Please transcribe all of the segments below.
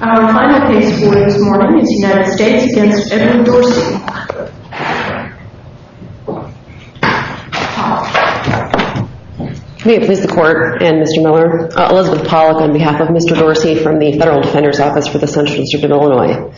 Our final case for this morning is United States v. Edward Dorsey. May it please the Court and Mr. Miller. Elizabeth Pollack on behalf of Mr. Dorsey from the Federal Defender's Office for the Central District of Illinois.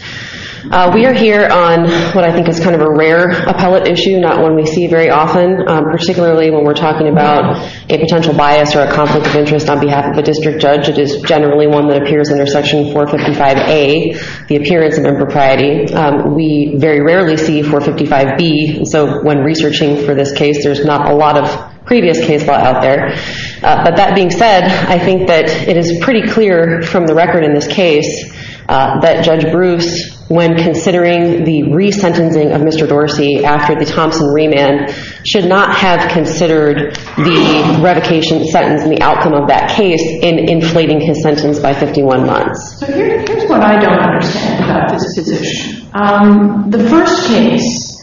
We are here on what I think is kind of a rare appellate issue, not one we see very often. Particularly when we're talking about a potential bias or a conflict of interest on behalf of a district judge. It is generally one that appears under Section 455A, the appearance of impropriety. We very rarely see 455B, so when researching for this case, there's not a lot of previous case law out there. But that being said, I think that it is pretty clear from the record in this case that Judge Bruce, when considering the resentencing of Mr. Dorsey after the Thompson remand, should not have considered the revocation sentence and the outcome of that case in inflating his sentence by 51 months. So here's what I don't understand about this position. The first case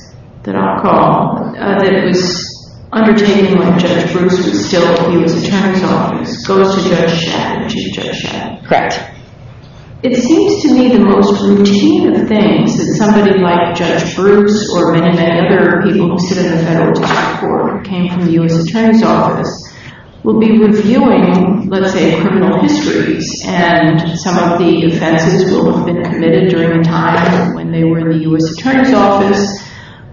that I'll call, that was undertaken when Judge Bruce was still in the Attorney's Office, goes to Judge Shad. Correct. It seems to me the most routine of things that somebody like Judge Bruce or many, many other people who sit in a federal district court who came from the U.S. Attorney's Office will be reviewing, let's say, criminal histories. And some of the offenses will have been committed during the time when they were in the U.S. Attorney's Office.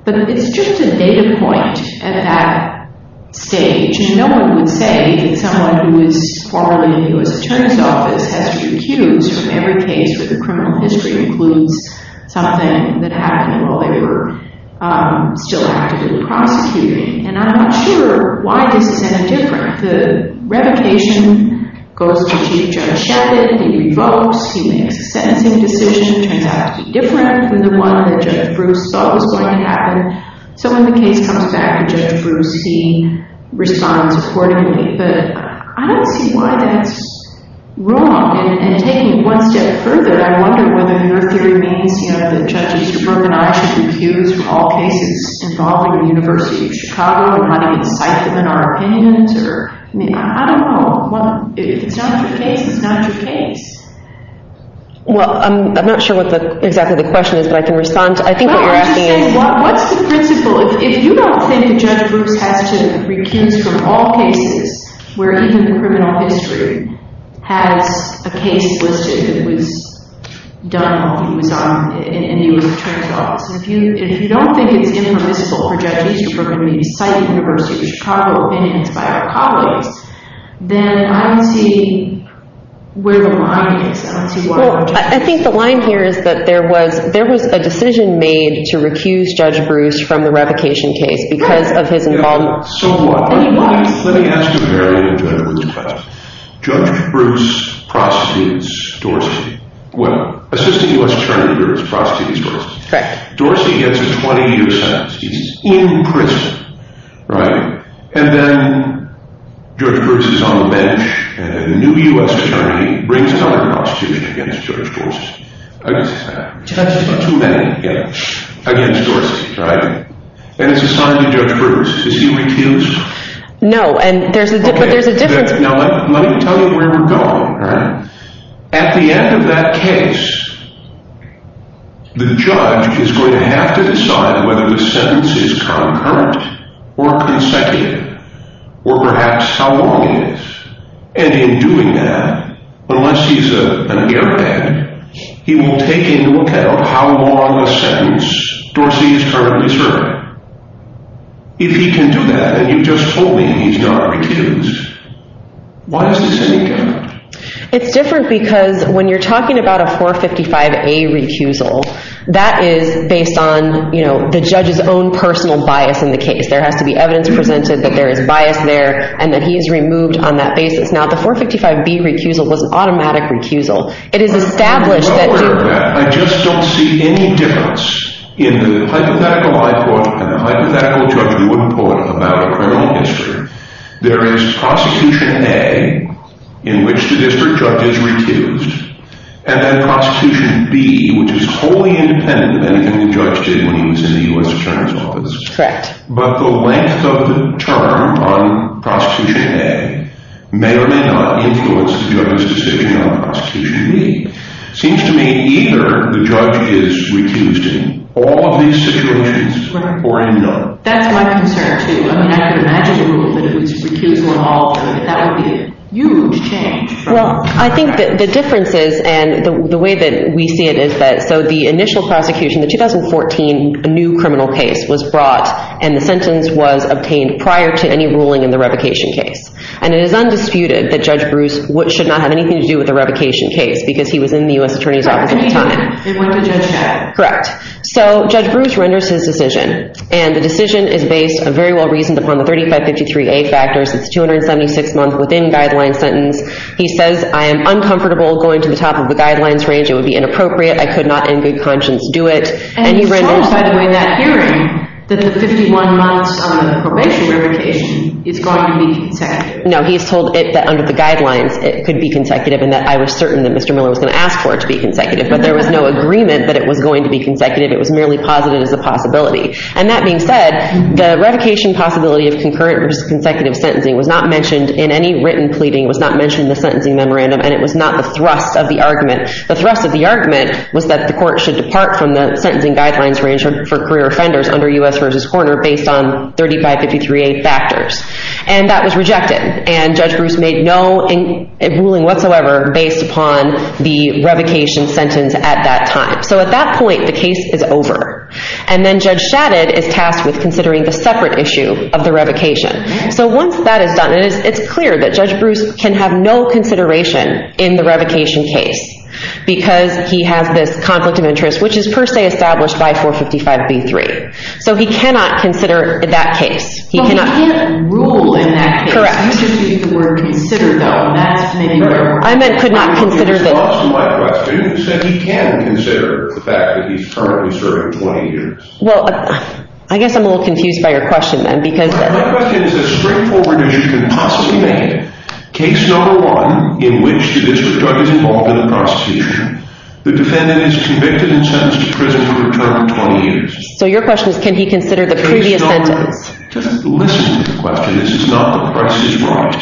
But it's just a data point at that stage. No one would say that someone who was formerly in the U.S. Attorney's Office has to recuse from every case where the criminal history includes something that happened while they were still actively prosecuting. And I'm not sure why this is so different. The revocation goes to Chief Judge Shad. He revokes. He makes a sentencing decision. It turns out to be different than the one that Judge Bruce thought was going to happen. So when the case comes back to Judge Bruce, he responds accordingly. But I don't see why that's wrong. And taking it one step further, I wonder whether your theory means that judges should recuse from all cases involving the University of Chicago and not incite them in our opinions. I don't know. If it's not your case, it's not your case. Well, I'm not sure what exactly the question is, but I can respond. Well, I was just saying, what's the principle? If you don't think that Judge Bruce has to recuse from all cases where even the criminal history has a case listed that was done while he was in the U.S. Attorney's Office, if you don't think it's impermissible for Judge Easterbrook to incite the University of Chicago opinions by our colleagues, then I don't see where the line is. Well, I think the line here is that there was a decision made to recuse Judge Bruce from the revocation case because of his involvement. Right. And he was. Let me ask you a very interesting question. Judge Bruce prostitutes Dorsey. Well, assisting U.S. Attorney groups prostitutes Dorsey. Correct. Dorsey gets a 20-year sentence. He's in prison, right? And then Judge Bruce is on the bench, and a new U.S. Attorney brings another prostitute against Judge Dorsey. Too many. Against Dorsey, right? And it's assigned to Judge Bruce. Does he recuse? No, and there's a difference. At the end of that case, the judge is going to have to decide whether the sentence is concurrent or consecutive, or perhaps how long it is. And in doing that, unless he's an airbag, he will take into account how long a sentence Dorsey is currently serving. If he can do that, and you just told me he's not recused, why is this any different? It's different because when you're talking about a 455A recusal, that is based on the judge's own personal bias in the case. There has to be evidence presented that there is bias there, and that he is removed on that basis. Now, the 455B recusal was an automatic recusal. It is established that— I'm not aware of that. I just don't see any difference. In the hypothetical I brought up and the hypothetical Judge Lewin brought up about criminal history, there is Prosecution A, in which the district judge is recused, and then Prosecution B, which is wholly independent of anything the judge did when he was in the U.S. Attorney's Office. Correct. But the length of the term on Prosecution A may or may not influence the judge's decision on Prosecution B. It seems to me either the judge is recused in all of these situations or in none. That's my concern, too. I mean, I would imagine a rule that it was recusal in all of them. That would be a huge change. Well, I think that the difference is—and the way that we see it is that— so the initial prosecution, the 2014 new criminal case was brought, and the sentence was obtained prior to any ruling in the revocation case. And it is undisputed that Judge Bruce should not have anything to do with the revocation case because he was in the U.S. Attorney's Office at the time. Correct. They went to Judge Chad. Correct. So Judge Bruce renders his decision, and the decision is based very well reasoned upon the 3553A factors. It's a 276-month within-guideline sentence. He says, I am uncomfortable going to the top of the guidelines range. It would be inappropriate. I could not in good conscience do it. And he told, by the way, in that hearing, that the 51-month probation revocation is going to be consecutive. No, he has told it that under the guidelines it could be consecutive and that I was certain that Mr. Miller was going to ask for it to be consecutive, but there was no agreement that it was going to be consecutive. It was merely posited as a possibility. And that being said, the revocation possibility of concurrent versus consecutive sentencing was not mentioned in any written pleading. It was not mentioned in the sentencing memorandum, and it was not the thrust of the argument. The thrust of the argument was that the court should depart from the sentencing guidelines range for career offenders under U.S. versus coroner based on 3553A factors. And that was rejected, and Judge Bruce made no ruling whatsoever based upon the revocation sentence at that time. So at that point, the case is over. And then Judge Shadid is tasked with considering the separate issue of the revocation. So once that is done, it's clear that Judge Bruce can have no consideration in the revocation case because he has this conflict of interest, which is per se established by 455B3. So he cannot consider that case. But he can't rule in that case. Correct. You should use the word consider, though. I meant could not consider this. My question is that he can consider the fact that he's currently serving 20 years. Well, I guess I'm a little confused by your question then because— My question is as straightforward as you can possibly make it. Case number one in which the district judge is involved in a prosecution. The defendant is convicted and sentenced to prison for a term of 20 years. So your question is can he consider the previous sentence? Just listen to the question. This is not the price is right.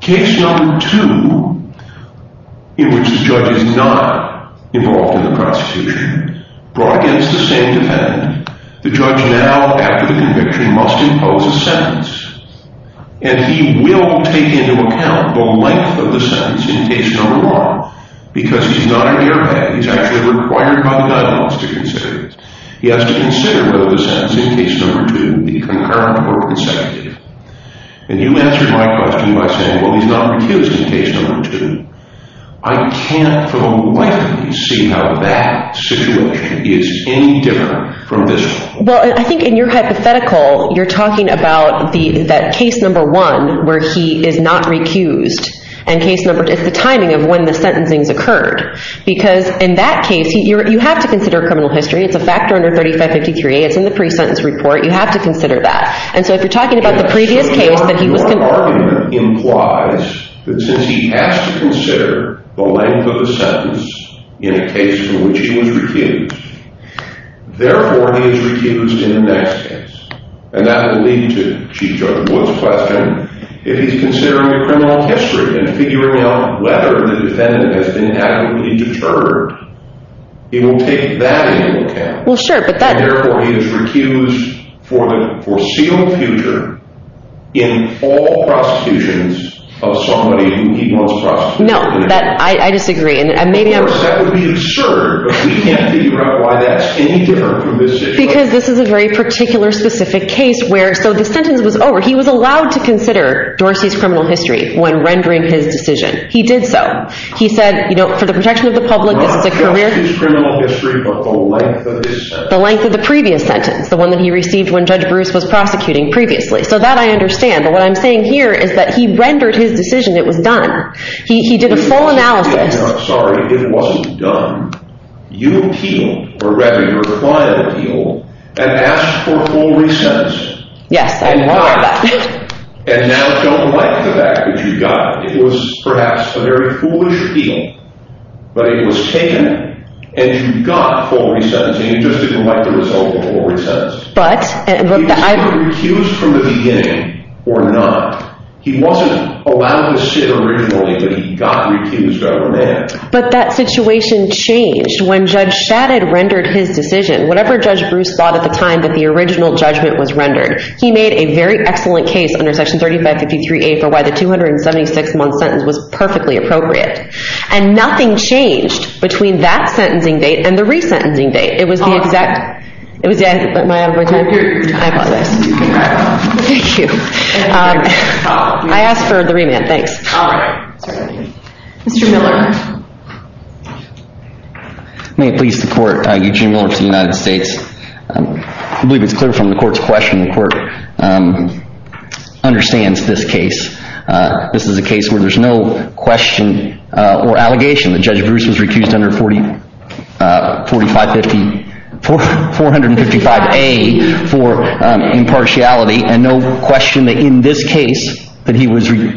Case number two in which the judge is not involved in the prosecution. Brought against the same defendant. The judge now, after the conviction, must impose a sentence. And he will take into account the length of the sentence in case number one because he's not an airbag. He's actually required by the guidelines to consider this. He has to consider whether the sentence in case number two be concurrent or consecutive. And you answered my question by saying, well, he's not recused in case number two. I can't for the life of me see how that situation is any different from this one. Well, I think in your hypothetical, you're talking about that case number one where he is not recused and case number— It's the timing of when the sentencing has occurred because in that case, you have to consider criminal history. It's a factor under 3553. It's in the pre-sentence report. You have to consider that. And so if you're talking about the previous case that he was— Your argument implies that since he has to consider the length of the sentence in a case in which he was recused, therefore he is recused in the next case. And that will lead to Chief Judge Wood's question. If he's considering the criminal history and figuring out whether the defendant has been adequately deterred, he will take that into account. Well, sure, but that— And therefore he is recused for the foreseeable future in all prosecutions of somebody who he wants prosecuted. No, I disagree. Of course, that would be absurd, but we can't figure out why that's any different from this situation. Because this is a very particular, specific case where— So the sentence was over. He was allowed to consider Dorsey's criminal history when rendering his decision. He did so. He said, you know, for the protection of the public, this is a career— Not just his criminal history, but the length of his sentence. The length of the previous sentence, the one that he received when Judge Bruce was prosecuting previously. So that I understand. But what I'm saying here is that he rendered his decision. It was done. He did a full analysis. No, I'm sorry. It wasn't done. You appealed, or rather your client appealed, and asked for a full resentencing. Yes. And got it. And now don't like the fact that you got it. It was perhaps a very foolish appeal, but it was taken. And you got a full resentencing. You just didn't like the result of a full resentence. But— He was either recused from the beginning or not. He wasn't allowed to sit originally, but he got recused over there. But that situation changed when Judge Shadid rendered his decision. Whatever Judge Bruce thought at the time that the original judgment was rendered, he made a very excellent case under Section 3553A for why the 276-month sentence was perfectly appropriate. And nothing changed between that sentencing date and the resentencing date. It was the exact— It was the exact— Am I out of my time? I apologize. You can wrap up. Thank you. I asked for the remand. Thanks. All right. Mr. Miller. May it please the Court, Eugene Miller for the United States. I believe it's clear from the Court's question, the Court understands this case. This is a case where there's no question or allegation that Judge Bruce was recused under 455— 455A for impartiality and no question that in this case that he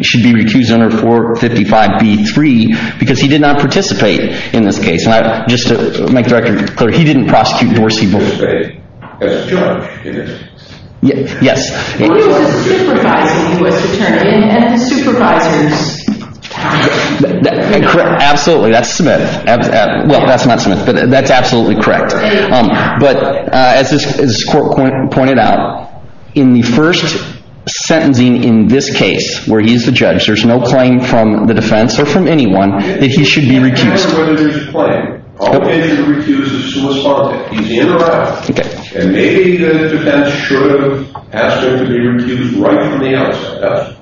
should be recused under 455B-3 because he did not participate in this case. And just to make the record clear, he didn't prosecute Dorsey. He participated as a judge in this case. Yes. He was a supervising U.S. attorney and supervisors. Absolutely. That's Smith. Well, that's not Smith, but that's absolutely correct. But as this Court pointed out, in the first sentencing in this case, where he's the judge, there's no claim from the defense or from anyone that he should be recused. He doesn't care whether there's a claim. All he has to recuse is who was suspended. He's in or out. And maybe the defense should have asked him to be recused right from the outset.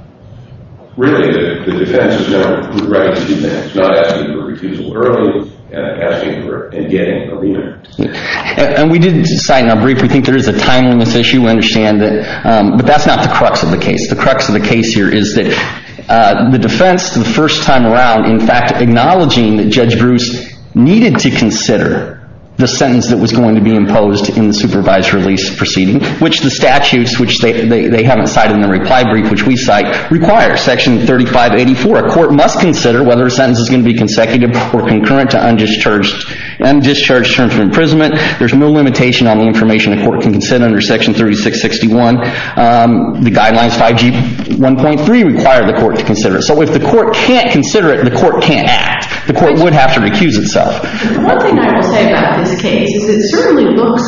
Really, the defense has no right to do that. It's not asking for recusal early and getting a remand. And we did decide in our brief we think there is a time limit issue. We understand that. But that's not the crux of the case. The crux of the case here is that the defense, the first time around, in fact, acknowledging that Judge Bruce needed to consider the sentence that was going to be imposed in the supervised release proceeding, which the statutes, which they haven't cited in the reply brief, which we cite, require. Section 3584, a court must consider whether a sentence is going to be consecutive or concurrent to undischarged terms of imprisonment. There's no limitation on the information a court can consider under Section 3661. The Guidelines 5G1.3 require the court to consider it. So if the court can't consider it, the court can't act. The court would have to recuse itself. The one thing I will say about this case is it certainly looks,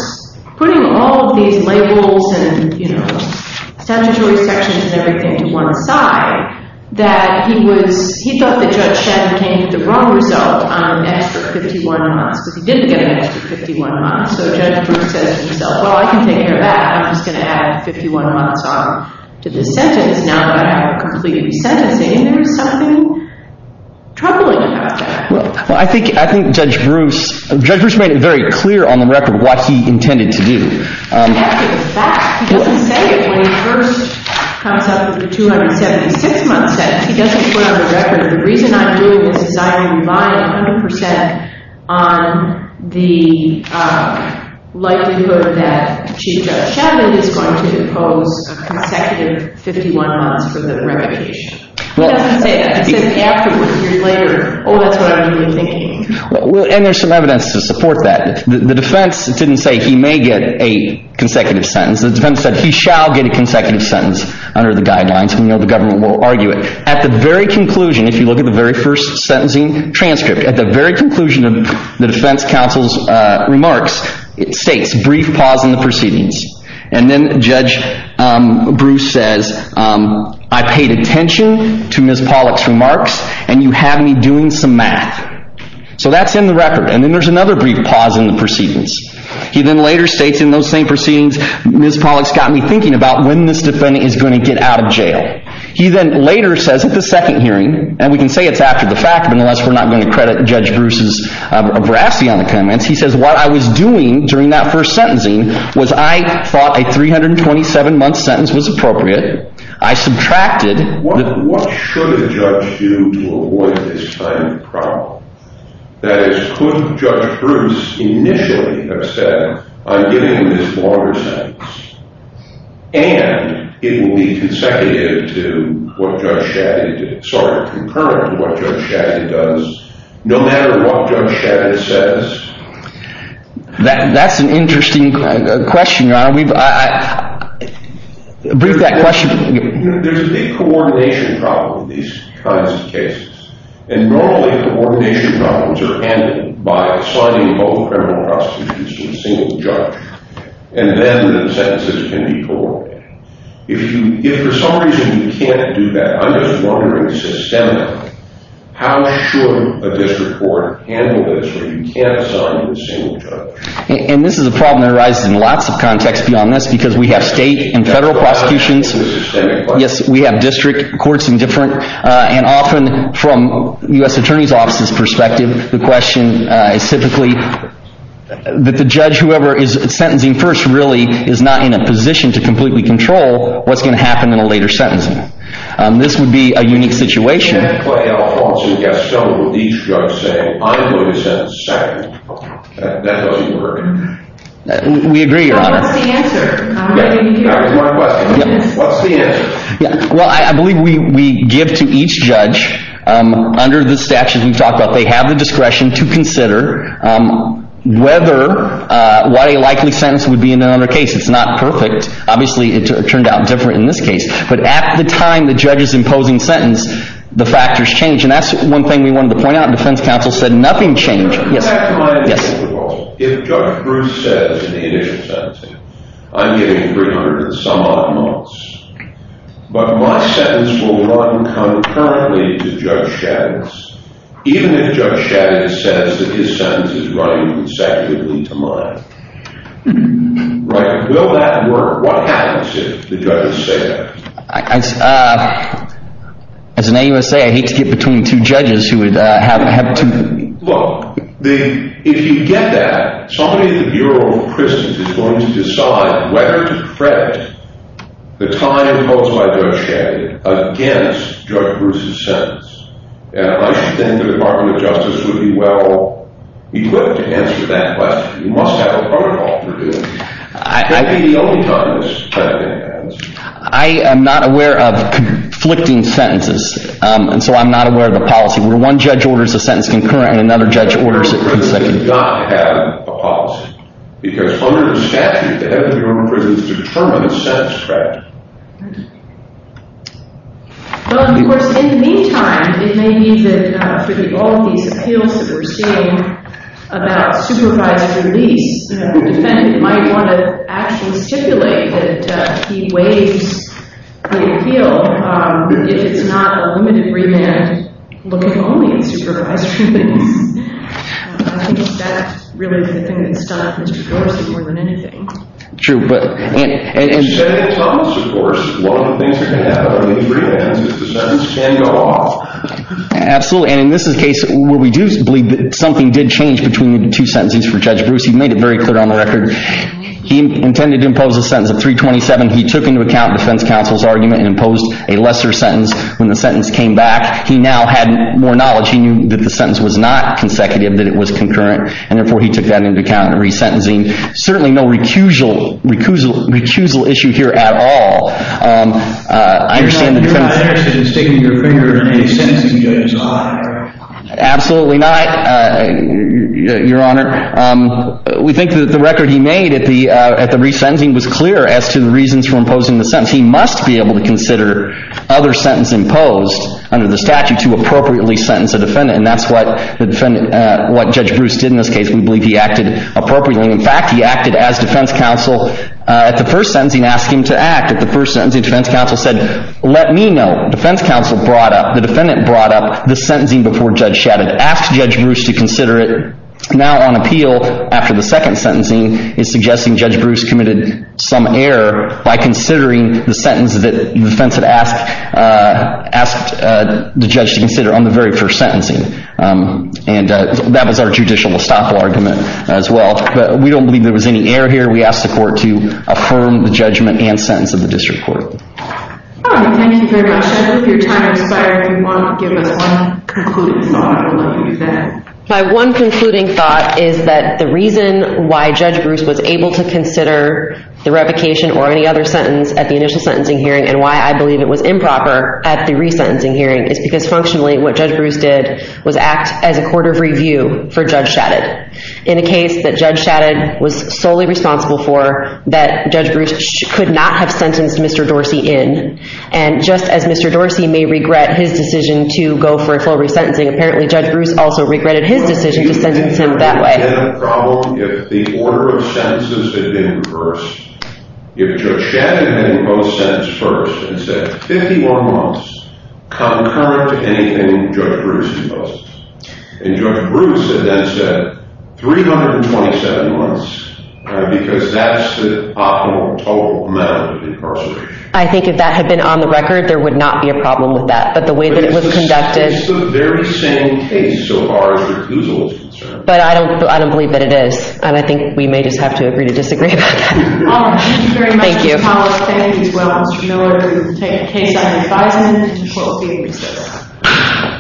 putting all of these labels and statutory sections and everything to one side, that he thought that Judge Shen came to the wrong result on an extra 51 months, because he didn't get an extra 51 months. So Judge Bruce says to himself, well, I can take care of that. I'm just going to add 51 months off to this sentence now that I have complete resentencing. There's something troubling about that. Well, I think Judge Bruce, Judge Bruce made it very clear on the record what he intended to do. That's a fact. He doesn't say it when he first comes up with the 276-month sentence. He doesn't put it on the record. The reason I'm doing this is I am buying 100% on the likelihood that Chief Judge Shadman is going to impose a consecutive 51 months for the revocation. He doesn't say that. He says afterward, a year later, oh, that's what I've been thinking. And there's some evidence to support that. The defense didn't say he may get a consecutive sentence. The defense said he shall get a consecutive sentence under the guidelines. We know the government will argue it. At the very conclusion, if you look at the very first sentencing transcript, at the very conclusion of the defense counsel's remarks, brief pause in the proceedings. And then Judge Bruce says, I paid attention to Ms. Pollack's remarks, and you have me doing some math. So that's in the record. And then there's another brief pause in the proceedings. He then later states in those same proceedings, Ms. Pollack's got me thinking about when this defendant is going to get out of jail. He then later says at the second hearing, and we can say it's after the fact, but unless we're not going to credit Judge Bruce's brassy on the comments, he says what I was doing during that first sentencing was I thought a 327-month sentence was appropriate. I subtracted. What should a judge do to avoid this kind of problem? That is, could Judge Bruce initially have said, I'm giving him this longer sentence, and it will be consecutive to what Judge Shadid did, sorry, concurrent to what Judge Shadid does, no matter what Judge Shadid says? That's an interesting question, Your Honor. Brief that question. There's a big coordination problem with these kinds of cases, and normally coordination problems are handled by assigning both criminal prosecutions to a single judge, and then the sentences can be corroborated. If for some reason you can't do that, I'm just wondering systemically how should a district court handle this where you can't assign to a single judge? And this is a problem that arises in lots of contexts beyond this, because we have state and federal prosecutions with systemic questions. Yes, we have district courts and different, and often from U.S. Attorney's Office's perspective, the question is typically that the judge, whoever is sentencing first, really is not in a position to completely control what's going to happen in a later sentencing. This would be a unique situation. You can't play out a Halston-Gaston with each judge saying, I'm going to sentence second. That doesn't work. We agree, Your Honor. So what's the answer? That was my question. What's the answer? Well, I believe we give to each judge under the statute we've talked about, they have the discretion to consider whether what a likely sentence would be in another case. It's not perfect. Obviously, it turned out different in this case. But at the time the judge is imposing sentence, the factors change. And that's one thing we wanted to point out. The defense counsel said nothing changed. Yes. If Judge Bruce says in the initial sentencing, I'm getting 300 and some odd months. But my sentence will run concurrently to Judge Shaddix. Even if Judge Shaddix says that his sentence is running consecutively to mine. Right? Will that work? What happens if the judges say that? As an AUSA, I hate to get between two judges who would have to... Look, if you get that, somebody at the Bureau of Prisons is going to decide whether to credit the time imposed by Judge Shaddix against Judge Bruce's sentence. And I should think the Department of Justice would be well-equipped to answer that question. You must have a protocol for doing that. That would be the only time this kind of thing happens. I am not aware of conflicting sentences. And so I'm not aware of the policy. Where one judge orders a sentence concurrent and another judge orders a consecutive. The Bureau of Prisons does not have a policy. Because under the statute, the head of the Bureau of Prisons determines the sentence credit. Well, of course, in the meantime, it may mean that through all of these appeals that we're seeing about supervised release, the defendant might want to actually stipulate that he waives the appeal if it's not a limited remand look-only in supervised release. I think that's really the thing that's done up Mr. Dorsey more than anything. True, but... In the Senate Commons, of course, one of the things that can happen on a remand is the sentence can go off. Absolutely. And in this case, where we do believe that something did change between the two sentences for Judge Bruce, he made it very clear on the record. He intended to impose a sentence of 327. He took into account the defense counsel's argument and imposed a lesser sentence when the sentence came back. He now had more knowledge. He knew that the sentence was not consecutive, that it was concurrent. And therefore, he took that into account in resentencing. Certainly no recusal issue here at all. I understand the defense... You're not interested in sticking your finger in a sentencing judge's eye. Absolutely not, Your Honor. We think that the record he made at the resentencing was clear for imposing the sentence. He must be able to consider other sentencing posed under the statute to appropriately sentence a defendant. And that's what Judge Dorsey did. What Judge Bruce did in this case, we believe he acted appropriately. In fact, he acted as defense counsel at the first sentencing and asked him to act. At the first sentencing, defense counsel said, let me know. Defense counsel brought up, the defendant brought up the sentencing before Judge Shadid. Asked Judge Bruce to consider it. Now on appeal, after the second sentencing, he's suggesting Judge Bruce committed some error by considering the sentence that the defense had asked the judge to consider on the very first sentencing. And that was our judicial estoppel argument as well. But we don't believe there was any error here. We asked the court to affirm the judgment and sentence of the district court. Thank you very much. I hope your time has inspired everyone to give us one concluding thought on what you said. My one concluding thought is that the reason why Judge Bruce was able to consider the revocation or any other sentence at the initial sentencing hearing and why I believe it was improper at the resentencing hearing is because functionally what Judge Bruce did was act as a court of review for Judge Shadid. In a case that Judge Shadid was solely responsible for, that Judge Bruce could not have sentenced Mr. Dorsey in. And just as Mr. Dorsey may regret his decision to go for a full resentencing, apparently Judge Bruce also regretted his decision to sentence him that way. if Judge Shadid had been most sentenced first and said 51 months concurrent to anything that Judge Shadid had said, then Judge Shadid would have been and Judge Bruce would have been most. And Judge Bruce had then said 327 months because that's the optimal total amount of incarceration. I think if that had been on the record there would not be a problem with that. But the way that it was conducted It's the very same case so far as recusal is concerned. But I don't believe that it is. And I think we may just have to agree to disagree about that. Thank you very much Mr. Collins thank you as well Mr. Miller to take a case and five minutes to close the hearing. Thank you.